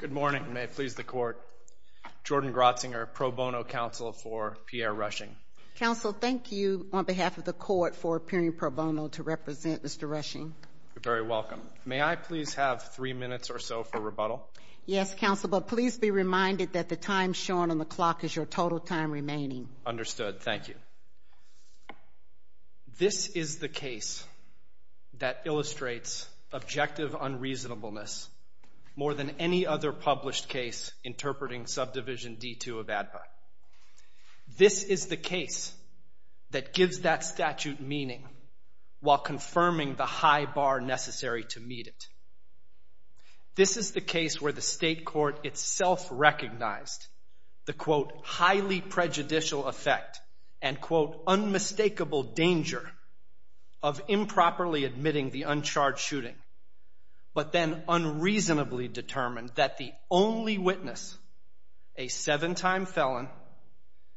Good morning, and may it please the Court. Jordan Grotzinger, pro bono counsel for Pierre Rushing. Counsel, thank you, on behalf of the Court, for appearing pro bono to represent Mr. Rushing. You're very welcome. May I please have three minutes or so for rebuttal? Yes, Counsel, but please be reminded that the time shown on the clock is your total time remaining. Understood. Thank you. This is the case that illustrates objective unreasonableness more than any other published case interpreting Subdivision D-2 of ADPA. This is the case that gives that statute meaning while confirming the high bar necessary to meet it. This is the case where the State Court itself recognized the, quote, highly prejudicial effect and, quote, unmistakable danger of improperly admitting the uncharged shooting, but then unreasonably determined that the only witness, a seven-time felon,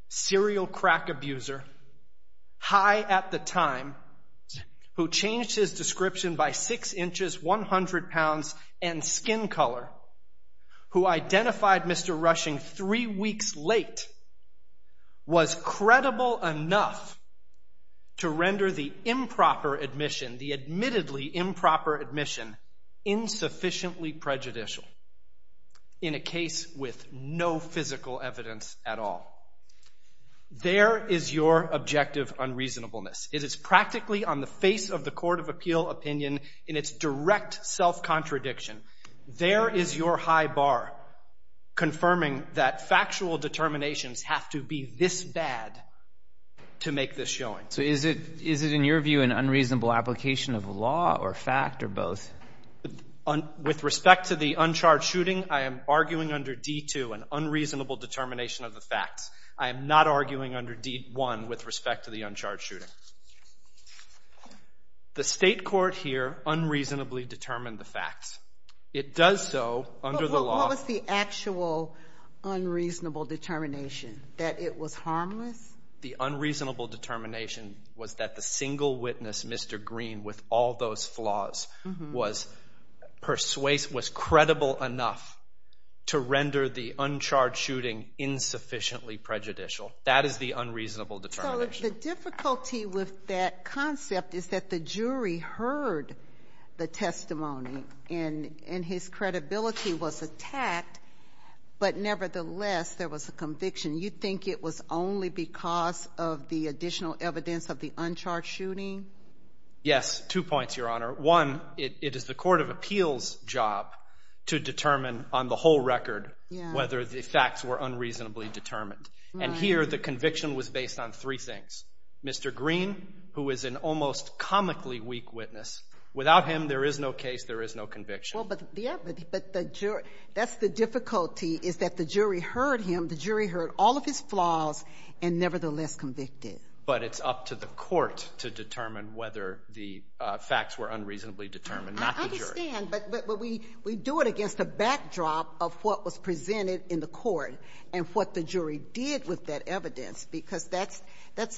serial crack abuser, high at the time, who changed his description by six inches, 100 pounds, and skin color, who identified Mr. Rushing three weeks late, was credible enough to render the improper admission, the admittedly improper admission, insufficiently prejudicial in a case with no physical evidence at all. There is your objective unreasonableness. It is practically on the face of the Court of Appeal opinion in its direct self-contradiction. There is your high bar confirming that factual determinations have to be this bad to make this showing. So is it, in your view, an unreasonable application of law or fact or both? With respect to the uncharged shooting, I am arguing under D-2 an unreasonable determination of the facts. I am not arguing under D-1 with respect to the uncharged shooting. The State Court here unreasonably determined the facts. It does so under the law. But what was the actual unreasonable determination, that it was harmless? The unreasonable determination was that the single witness, Mr. Green, with all those flaws, was credible enough to render the uncharged shooting insufficiently prejudicial. That is the unreasonable determination. So the difficulty with that concept is that the jury heard the testimony, and his credibility was attacked, but nevertheless there was a conviction. You think it was only because of the additional evidence of the uncharged shooting? Yes. Two points, Your Honor. One, it is the Court of Appeal's job to determine on the whole record whether the facts were unreasonably determined. And here the conviction was based on three things. Mr. Green, who is an almost comically weak witness, without him there is no case, there is no conviction. That's the difficulty, is that the jury heard him, the jury heard all of his flaws, and nevertheless convicted. But it's up to the court to determine whether the facts were unreasonably determined, not the jury. I understand, but we do it against a backdrop of what was presented in the court and what the jury did with that evidence, because that's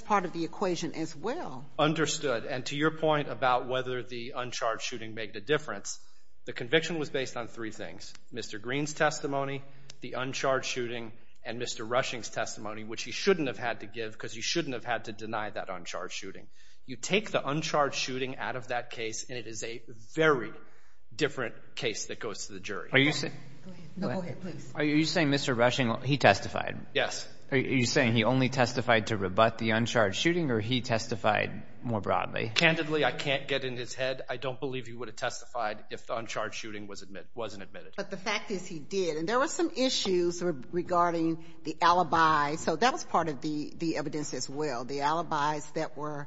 part of the equation as well. Understood. And to your point about whether the uncharged shooting made a difference, the conviction was based on three things, Mr. Green's testimony, the uncharged shooting, and Mr. Rushing's testimony, which he shouldn't have had to give because he shouldn't have had to deny that uncharged shooting. You take the uncharged shooting out of that case, and it is a very different case that goes to the jury. Are you saying Mr. Rushing, he testified? Yes. Are you saying he only testified to rebut the uncharged shooting, or he testified more broadly? Candidly, I can't get in his head. I don't believe he would have testified if the uncharged shooting was admitted or wasn't admitted. But the fact is he did. And there were some issues regarding the alibis. So that was part of the evidence as well. The alibis that were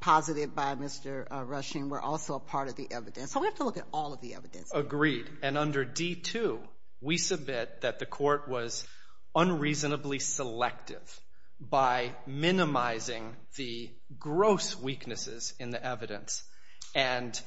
posited by Mr. Rushing were also a part of the evidence. So we have to look at all of the evidence. Agreed. And under D-2, we submit that the court was unreasonably selective by minimizing the gross weaknesses in the evidence and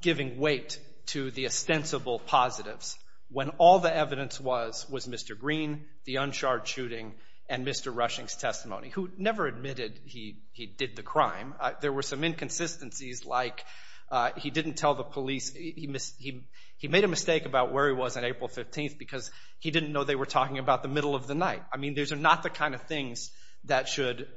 giving weight to the ostensible positives when all the evidence was Mr. Green, the uncharged shooting, and Mr. Rushing's testimony, who never admitted he did the crime. There were some inconsistencies like he didn't tell the police. He made a mistake about where he was on April 15th because he didn't know they were talking about the middle of the night. I mean, these are not the kind of things that should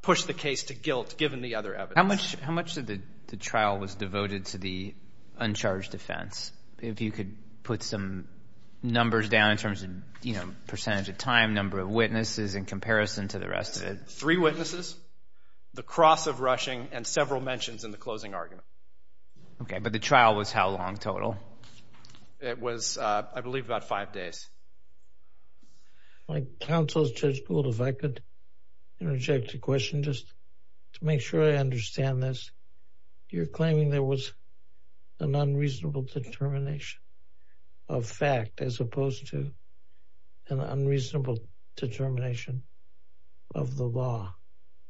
push the case to guilt given the other evidence. How much of the trial was devoted to the uncharged offense? If you could put some numbers down in terms of percentage of time, number of witnesses, in comparison to the rest of it. Three witnesses. The cross of Rushing and several mentions in the closing argument. Okay, but the trial was how long total? It was, I believe, about five days. My counsel, Judge Gould, if I could interject a question just to make sure I understand this. You're claiming there was an unreasonable determination of fact as opposed to an unreasonable determination of the law.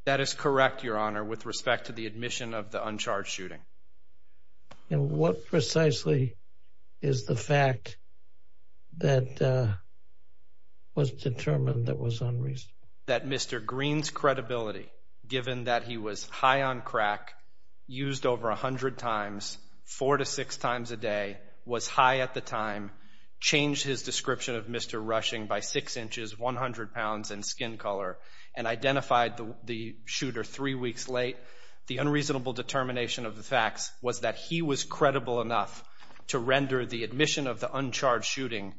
That is correct, Your Honor, with respect to the admission of the uncharged shooting. And what precisely is the fact that was determined that was unreasonable? That Mr. Green's credibility, given that he was high on crack, used over 100 times, four to six times a day, was high at the time, changed his description of Mr. Rushing by 6 inches, 100 pounds, and skin color, and identified the shooter three weeks late? The unreasonable determination of the facts was that he was credible enough to render the admission of the uncharged shooting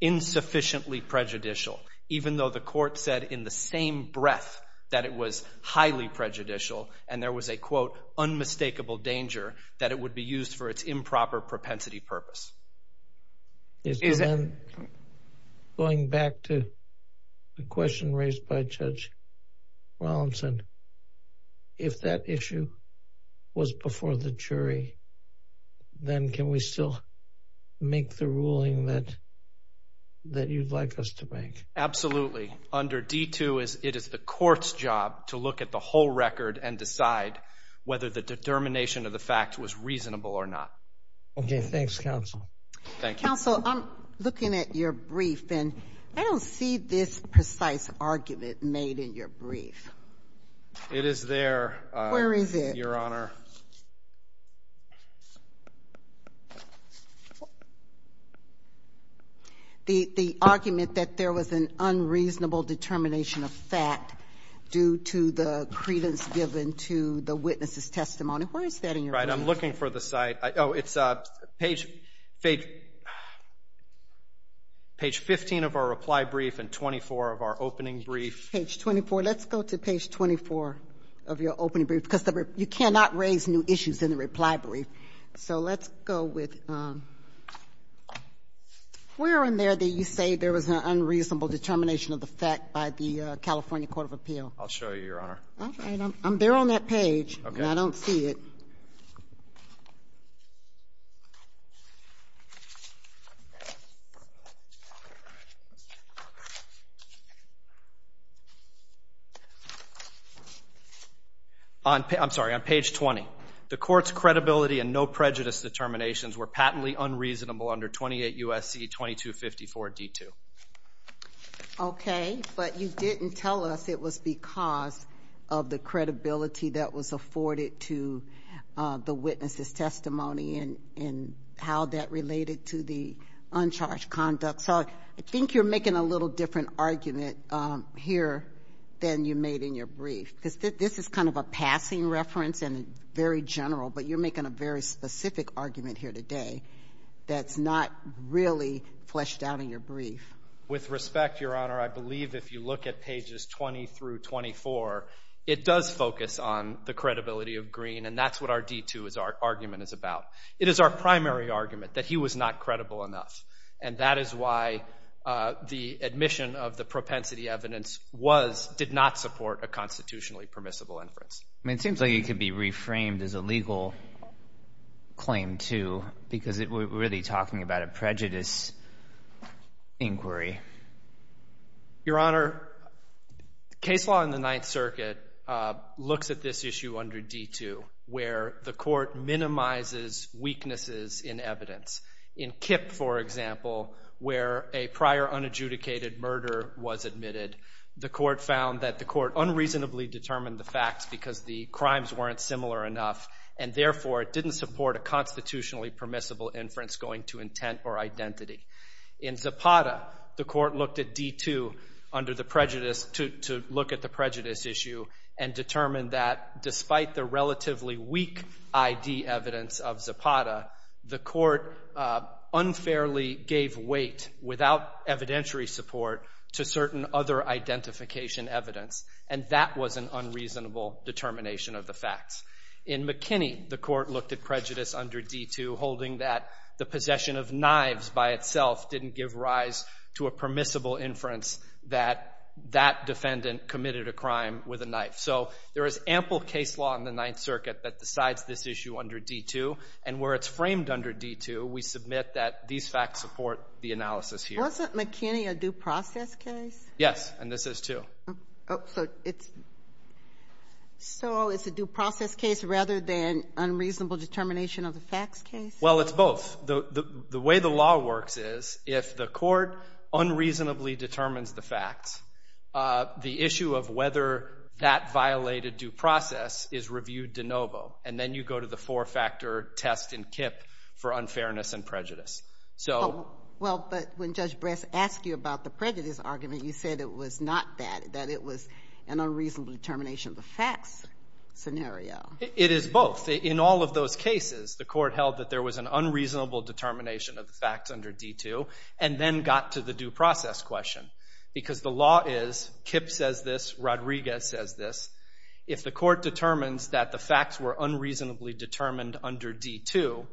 insufficiently prejudicial, even though the court said in the same breath that it was highly prejudicial and there was a, quote, unmistakable danger that it would be used for its improper propensity purpose. Going back to the question raised by Judge Rollinson, if that issue was before the jury, then can we still make the ruling that you'd like us to make? Absolutely. Under D-2, it is the court's job to look at the whole record and decide whether the determination of the fact was reasonable or not. Okay, thanks, counsel. Thank you. Counsel, I'm looking at your brief, and I don't see this precise argument made in your brief. It is there, Your Honor. Where is it? The argument that there was an unreasonable determination of fact due to the credence given to the witness's testimony, where is that in your brief? Right, I'm looking for the site. Oh, it's page 15 of our reply brief and 24 of our opening brief. Page 24. Let's go to page 24 of your opening brief, because you cannot raise new issues in the reply brief. So let's go with where in there do you say there was an unreasonable determination of the fact by the California Court of Appeal? I'll show you, Your Honor. All right. I'm there on that page, and I don't see it. Okay. I'm sorry, on page 20. The court's credibility and no prejudice determinations were patently unreasonable under 28 U.S.C. 2254 D2. Okay, but you didn't tell us it was because of the credibility that was afforded to the witness's testimony and how that related to the uncharged conduct. So I think you're making a little different argument here than you made in your brief, because this is kind of a passing reference and very general, but you're making a very specific argument here today that's not really fleshed out in your brief. With respect, Your Honor, I believe if you look at pages 20 through 24, it does focus on the credibility of Green, and that's what our D2 argument is about. It is our primary argument that he was not credible enough, and that is why the admission of the propensity evidence did not support a constitutionally permissible inference. It seems like it could be reframed as a legal claim, too, because we're really talking about a prejudice inquiry. Your Honor, case law in the Ninth Circuit looks at this issue under D2, where the court minimizes weaknesses in evidence. In Kipp, for example, where a prior unadjudicated murder was admitted, the court found that the court unreasonably determined the facts because the crimes weren't similar enough, and therefore it didn't support a constitutionally permissible inference going to intent or identity. In Zapata, the court looked at D2 to look at the prejudice issue and determined that despite the relatively weak ID evidence of Zapata, the court unfairly gave weight without evidentiary support to certain other identification evidence, and that was an unreasonable determination of the facts. In McKinney, the court looked at prejudice under D2, holding that the possession of knives by itself didn't give rise to a permissible inference that that defendant committed a crime with a knife. So there is ample case law in the Ninth Circuit that decides this issue under D2, and where it's framed under D2, we submit that these facts support the analysis here. Wasn't McKinney a due process case? Yes, and this is, too. So it's a due process case rather than unreasonable determination of the facts case? Well, it's both. The way the law works is if the court unreasonably determines the facts, the issue of whether that violated due process is reviewed de novo, and then you go to the four-factor test in KIPP for unfairness and prejudice. Well, but when Judge Bress asked you about the prejudice argument, you said it was not that, that it was an unreasonable determination of the facts scenario. It is both. In all of those cases, the court held that there was an unreasonable determination of the facts under D2 and then got to the due process question, because the law is KIPP says this, Rodriguez says this. If the court determines that the facts were unreasonably determined under D2,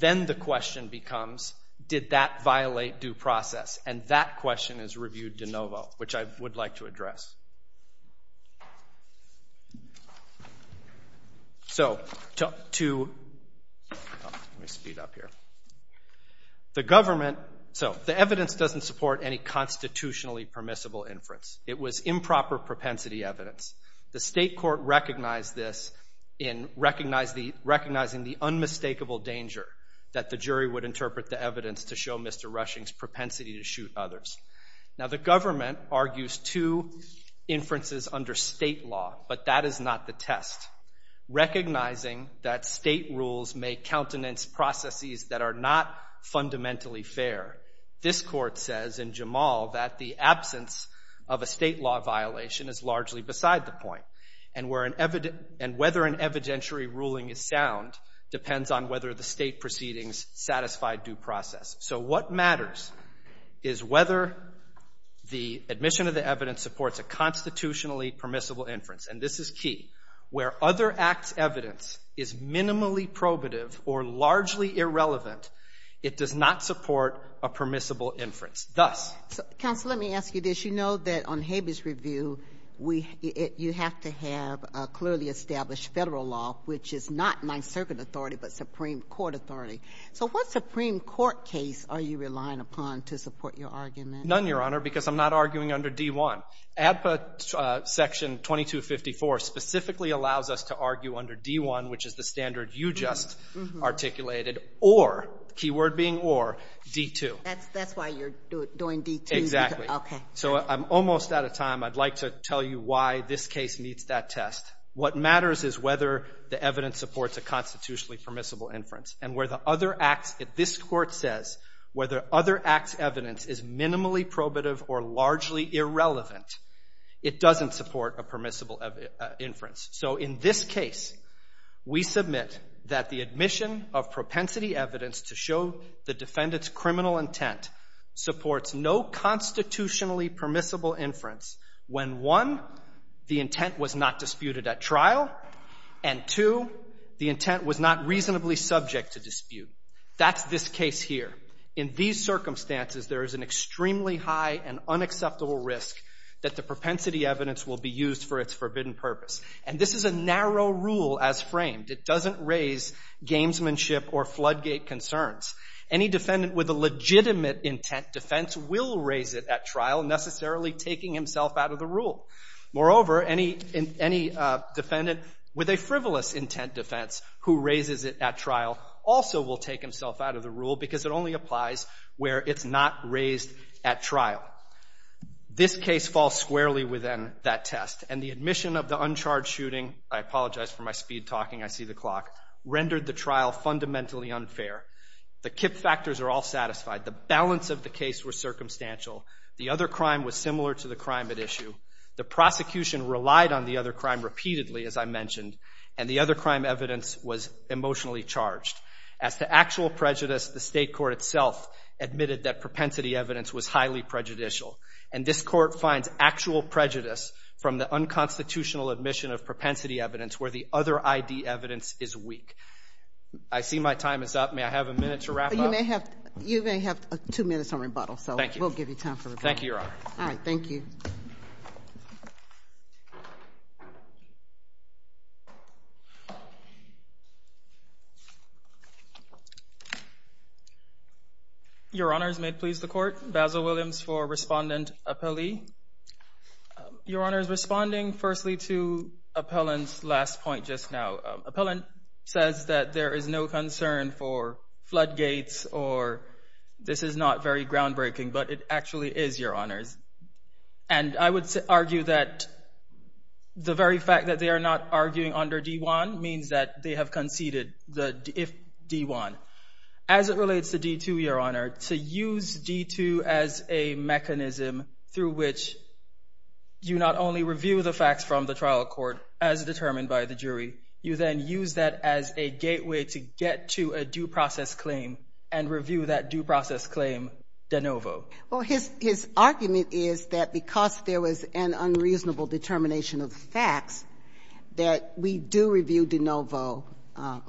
then the question becomes, did that violate due process? And that question is reviewed de novo, which I would like to address. So to, let me speed up here. The government, so the evidence doesn't support any constitutionally permissible inference. It was improper propensity evidence. The state court recognized this in recognizing the unmistakable danger that the jury would interpret the evidence to show Mr. Rushing's propensity to shoot others. Now, the government argues two inferences under state law, but that is not the test. Recognizing that state rules may countenance processes that are not fundamentally fair, this court says in Jamal that the absence of a state law violation is largely beside the point, and whether an evidentiary ruling is sound depends on whether the state proceedings satisfy due process. So what matters is whether the admission of the evidence supports a constitutionally permissible inference, and this is key. Where other acts' evidence is minimally probative or largely irrelevant, it does not support a permissible inference. Thus. Counsel, let me ask you this. You know that on Habeas Review, you have to have a clearly established federal law, which is not Ninth Circuit authority, but Supreme Court authority. So what Supreme Court case are you relying upon to support your argument? None, Your Honor, because I'm not arguing under D-1. ADPA Section 2254 specifically allows us to argue under D-1, which is the standard you just articulated, or, keyword being or, D-2. That's why you're doing D-2? Exactly. Okay. So I'm almost out of time. I'd like to tell you why this case meets that test. What matters is whether the evidence supports a constitutionally permissible inference, and where the other acts, if this court says whether other acts' evidence is minimally probative or largely irrelevant, it doesn't support a permissible inference. So in this case, we submit that the admission of propensity evidence to show the defendant's criminal intent supports no constitutionally permissible inference when, one, the intent was not disputed at trial, and, two, the intent was not reasonably subject to dispute. That's this case here. In these circumstances, there is an extremely high and unacceptable risk that the propensity evidence will be used for its forbidden purpose. And this is a narrow rule as framed. It doesn't raise gamesmanship or floodgate concerns. Any defendant with a legitimate intent defense will raise it at trial, necessarily taking himself out of the rule. Moreover, any defendant with a frivolous intent defense who raises it at trial also will take himself out of the rule because it only applies where it's not raised at trial. This case falls squarely within that test, and the admission of the uncharged shooting, I apologize for my speed talking, I see the clock, rendered the trial fundamentally unfair. The KIPP factors are all satisfied. The balance of the case was circumstantial. The other crime was similar to the crime at issue. The prosecution relied on the other crime repeatedly, as I mentioned, and the other crime evidence was emotionally charged. As to actual prejudice, the state court itself admitted that propensity evidence was highly prejudicial, and this court finds actual prejudice from the unconstitutional admission of propensity evidence where the other ID evidence is weak. I see my time is up. May I have a minute to wrap up? You may have two minutes on rebuttal, so we'll give you time for rebuttal. Thank you, Your Honor. All right, thank you. Your Honors, may it please the Court, Basil Williams for Respondent Appellee. Your Honors, responding firstly to Appellant's last point just now. Appellant says that there is no concern for floodgates or this is not very groundbreaking, but it actually is, Your Honors. And I would argue that the very fact that they are not arguing under D-1 means that they have conceded, if D-1. As it relates to D-2, Your Honor, to use D-2 as a mechanism through which you not only review the facts from the trial court as determined by the jury, you then use that as a gateway to get to a due process claim and review that due process claim de novo. Well, his argument is that because there was an unreasonable determination of the facts that we do review de novo.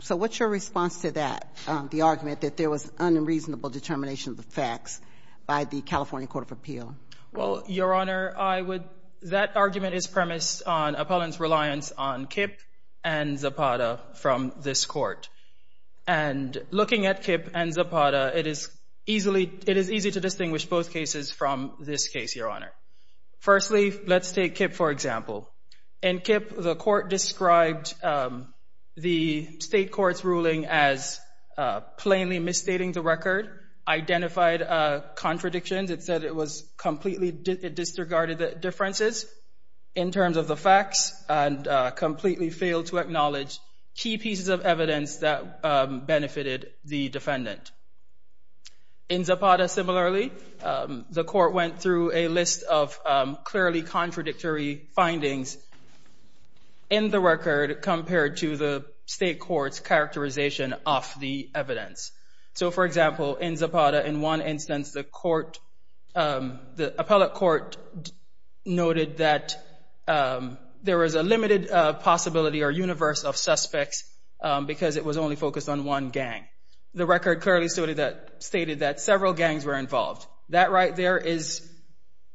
So what's your response to that, the argument that there was unreasonable determination of the facts by the California Court of Appeal? Well, Your Honor, that argument is premised on Appellant's reliance on Kip and Zapata from this Court. And looking at Kip and Zapata, it is easy to distinguish both cases from this case, Your Honor. Firstly, let's take Kip for example. In Kip, the court described the state court's ruling as plainly misstating the record, identified contradictions. It said it was completely disregarded the differences in terms of the facts and completely failed to acknowledge key pieces of evidence that benefited the defendant. In Zapata, similarly, the court went through a list of clearly contradictory findings in the record compared to the state court's characterization of the evidence. So for example, in Zapata, in one instance, the court, the appellate court noted that there was a limited possibility or universe of suspects because it was only focused on one gang. The record clearly stated that several gangs were involved. That right there is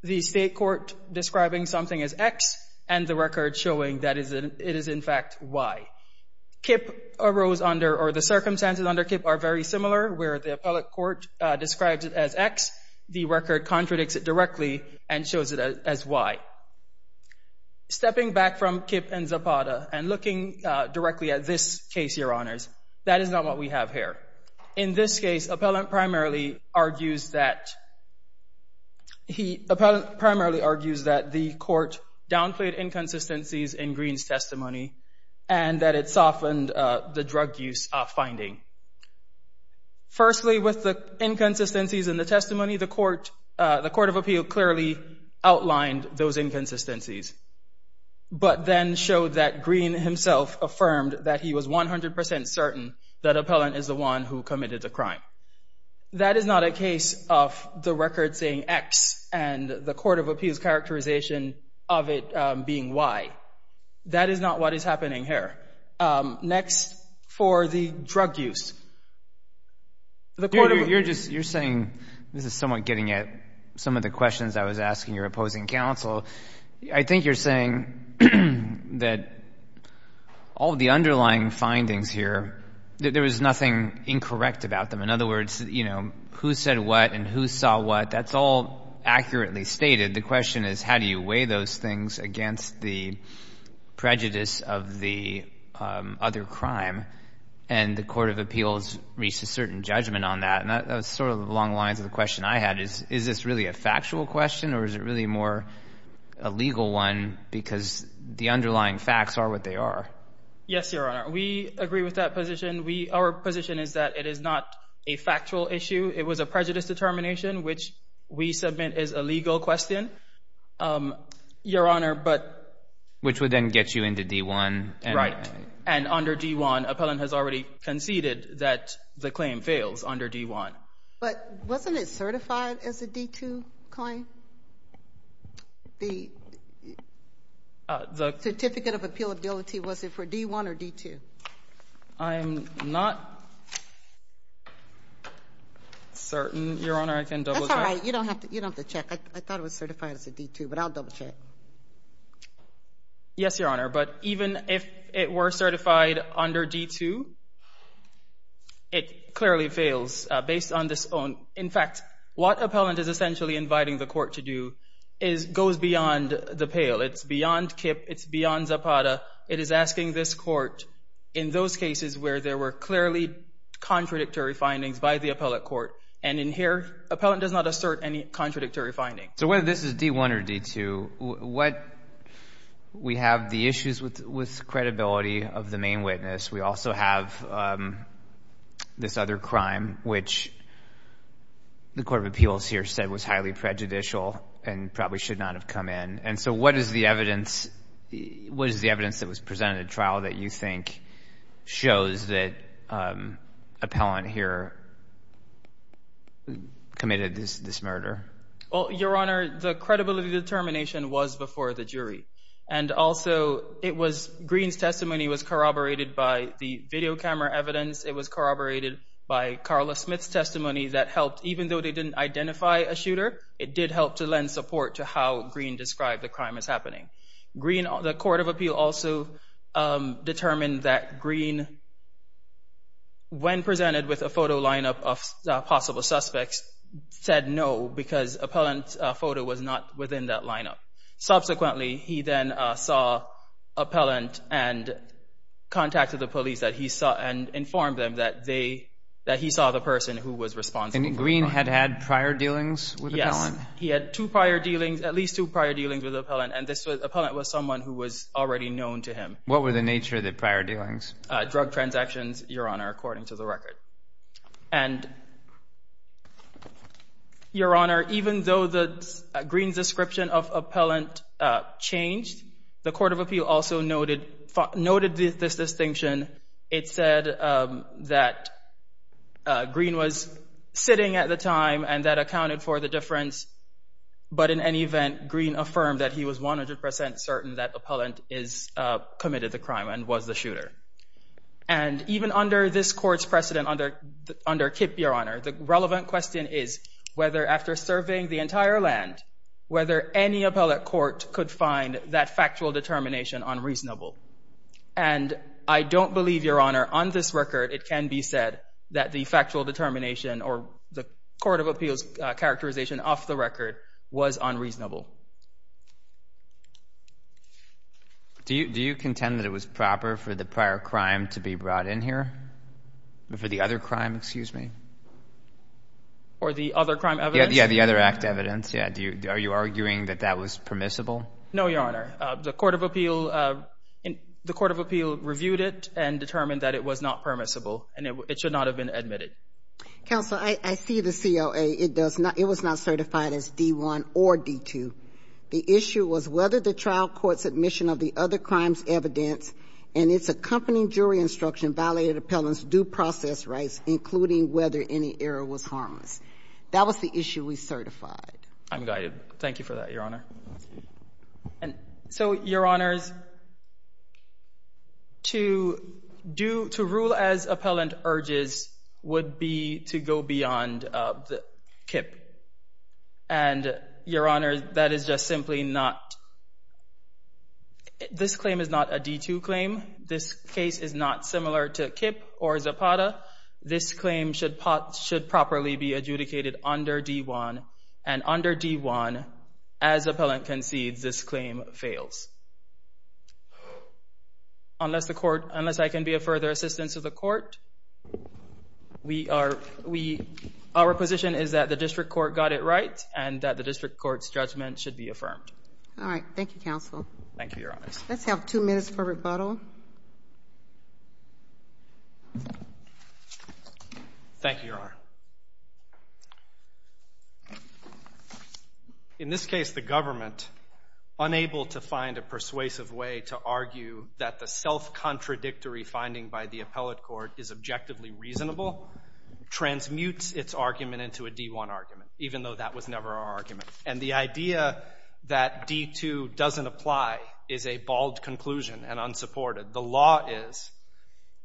the state court describing something as X and the record showing that it is in fact Y. Kip arose under, or the circumstances under Kip are very similar where the appellate court describes it as X, the record contradicts it directly and shows it as Y. Stepping back from Kip and Zapata and looking directly at this case, Your Honors, that is not what we have here. In this case, appellant primarily argues that the court downplayed inconsistencies in Green's testimony and that it softened the drug use finding. Firstly, with the inconsistencies in the testimony, the Court of Appeal clearly outlined those inconsistencies but then showed that Green himself affirmed that he was 100 percent certain that appellant is the one who committed the crime. That is not a case of the record saying X and the Court of Appeal's characterization of it being Y. That is not what is happening here. All right. Next, for the drug use. The Court of Appeal. You're just, you're saying, this is somewhat getting at some of the questions I was asking your opposing counsel. I think you're saying that all of the underlying findings here, there was nothing incorrect about them. In other words, you know, who said what and who saw what, that's all accurately stated. The question is, how do you weigh those things against the prejudice of the other crime? And the Court of Appeals reached a certain judgment on that. And that was sort of along the lines of the question I had is, is this really a factual question or is it really more a legal one because the underlying facts are what they are? Yes, Your Honor. We agree with that position. Our position is that it is not a factual issue. It was a prejudice determination, which we submit as a legal question, Your Honor, but. Which would then get you into D-1. Right. And under D-1, appellant has already conceded that the claim fails under D-1. But wasn't it certified as a D-2 claim? The certificate of appealability, was it for D-1 or D-2? I'm not certain, Your Honor. I can double check. That's all right. You don't have to check. I thought it was certified as a D-2, but I'll double check. Yes, Your Honor. But even if it were certified under D-2, it clearly fails based on this own. In fact, what appellant is essentially inviting the court to do goes beyond the pale. It's beyond KIPP. It's beyond Zapata. It is asking this court, in those cases where there were clearly contradictory findings by the appellant court, and in here, appellant does not assert any contradictory findings. So whether this is D-1 or D-2, we have the issues with credibility of the main witness. We also have this other crime, which the Court of Appeals here said was highly prejudicial and probably should not have come in. And so what is the evidence that was presented at trial that you think shows that appellant here committed this murder? Well, Your Honor, the credibility determination was before the jury. And also, Green's testimony was corroborated by the video camera evidence. It was corroborated by Carla Smith's testimony that helped. Even though they didn't identify a shooter, it did help to lend support to how Green described the crime as happening. The Court of Appeal also determined that Green, when presented with a photo lineup of possible suspects, said no because appellant's photo was not within that lineup. Subsequently, he then saw appellant and contacted the police and informed them that he saw the person who was responsible. And Green had had prior dealings with appellant? Yes, he had two prior dealings, at least two prior dealings with appellant. And this appellant was someone who was already known to him. What were the nature of the prior dealings? Drug transactions, Your Honor, according to the record. And, Your Honor, even though Green's description of appellant changed, the Court of Appeal also noted this distinction. It said that Green was sitting at the time and that accounted for the difference. But in any event, Green affirmed that he was 100% certain that appellant committed the crime and was the shooter. And even under this Court's precedent, under KIPP, Your Honor, the relevant question is whether after surveying the entire land, whether any appellate court could find that factual determination unreasonable. And I don't believe, Your Honor, on this record it can be said that the factual determination or the Court of Appeal's characterization off the record was unreasonable. Do you contend that it was proper for the prior crime to be brought in here? For the other crime, excuse me? Or the other crime evidence? Yeah, the other act evidence. Yeah. Are you arguing that that was permissible? No, Your Honor. The Court of Appeal reviewed it and determined that it was not permissible and it should not have been admitted. Counsel, I see the CLA. It was not certified as D1 or D2. The issue was whether the trial court's admission of the other crime's evidence and its accompanying jury instruction violated appellant's due process rights, including whether any error was harmless. That was the issue we certified. I'm guided. Thank you for that, Your Honor. So, Your Honors, to rule as appellant urges would be to go beyond KIPP. And, Your Honors, that is just simply not – this claim is not a D2 claim. This case is not similar to KIPP or Zapata. This claim should properly be adjudicated under D1. And under D1, as appellant concedes, this claim fails. Unless I can be of further assistance to the court, our position is that the district court got it right and that the district court's judgment should be affirmed. All right. Thank you, Counsel. Thank you, Your Honors. Let's have two minutes for rebuttal. Thank you. Thank you, Your Honor. In this case, the government, unable to find a persuasive way to argue that the self-contradictory finding by the appellate court is objectively reasonable, transmutes its argument into a D1 argument, even though that was never our argument. And the idea that D2 doesn't apply is a bald conclusion and unsupported. The law is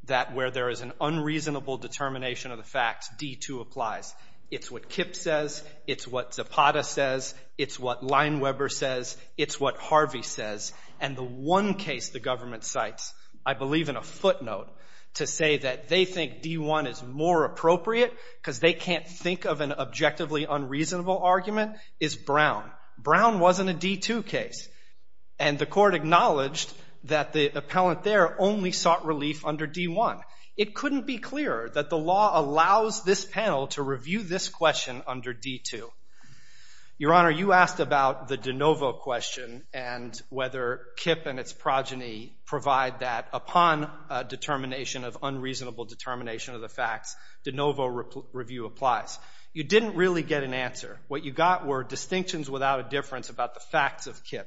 that where there is an unreasonable determination of the facts, D2 applies. It's what KIPP says. It's what Zapata says. It's what Lineweber says. It's what Harvey says. And the one case the government cites, I believe in a footnote, to say that they think D1 is more appropriate because they can't think of an objectively unreasonable argument, is Brown. Brown wasn't a D2 case. And the court acknowledged that the appellant there only sought relief under D1. It couldn't be clearer that the law allows this panel to review this question under D2. Your Honor, you asked about the de novo question and whether KIPP and its progeny provide that upon a determination of unreasonable determination of the facts, de novo review applies. You didn't really get an answer. What you got were distinctions without a difference about the facts of KIPP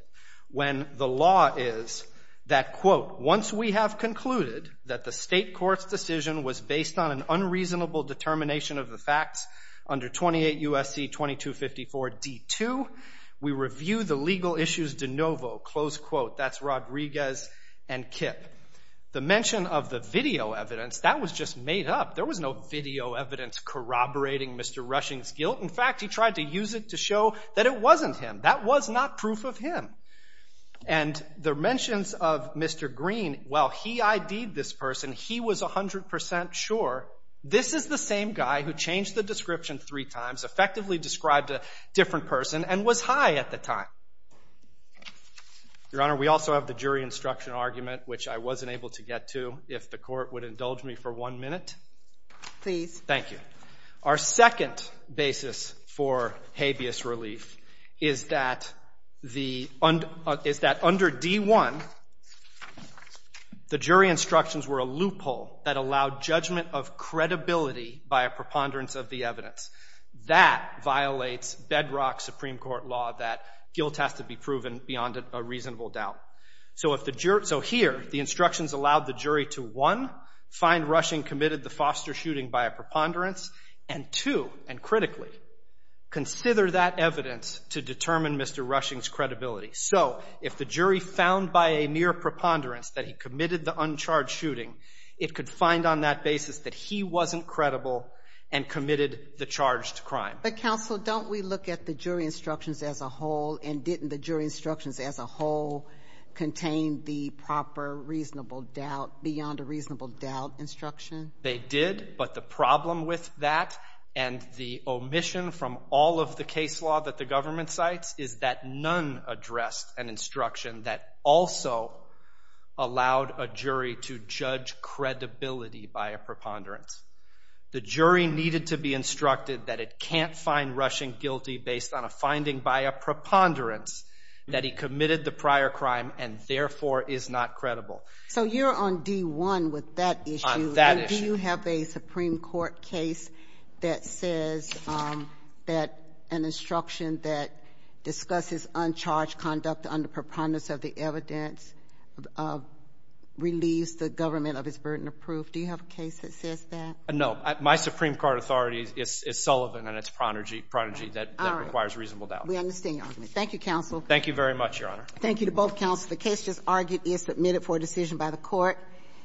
when the law is that, quote, once we have concluded that the state court's decision was based on an unreasonable determination of the facts under 28 U.S.C. 2254 D2, we review the legal issues de novo, close quote. That's Rodriguez and KIPP. The mention of the video evidence, that was just made up. There was no video evidence corroborating Mr. Rushing's guilt. In fact, he tried to use it to show that it wasn't him. That was not proof of him. And the mentions of Mr. Green, while he ID'd this person, he was 100 percent sure this is the same guy who changed the description three times, effectively described a different person, and was high at the time. Your Honor, we also have the jury instruction argument, which I wasn't able to get to. If the Court would indulge me for one minute. Please. Thank you. Our second basis for habeas relief is that the, is that under D1, the jury instructions were a loophole that allowed judgment of credibility by a preponderance of the evidence. That violates bedrock Supreme Court law that guilt has to be proven beyond a reasonable doubt. So here, the instructions allowed the jury to, one, find Rushing committed the foster shooting by a preponderance, and two, and critically, consider that evidence to determine Mr. Rushing's credibility. So if the jury found by a mere preponderance that he committed the uncharged shooting, it could find on that basis that he wasn't credible and committed the charged crime. But Counsel, don't we look at the jury instructions as a whole, and didn't the jury instructions as a whole contain the proper reasonable doubt, beyond a reasonable doubt instruction? They did, but the problem with that and the omission from all of the case law that the government cites is that none addressed an instruction that also allowed a jury to judge credibility by a preponderance. The jury needed to be instructed that it can't find Rushing guilty based on a finding by a preponderance that he committed the prior crime and, therefore, is not credible. So you're on D1 with that issue. On that issue. Do you have a Supreme Court case that says that an instruction that discusses uncharged conduct under preponderance of the evidence relieves the government of its burden of proof? Do you have a case that says that? No. My Supreme Court authority is Sullivan, and it's Prodigy that requires reasonable doubt. We understand your argument. Thank you, Counsel. Thank you very much, Your Honor. Thank you to both Counselors. The case just argued is submitted for decision by the Court.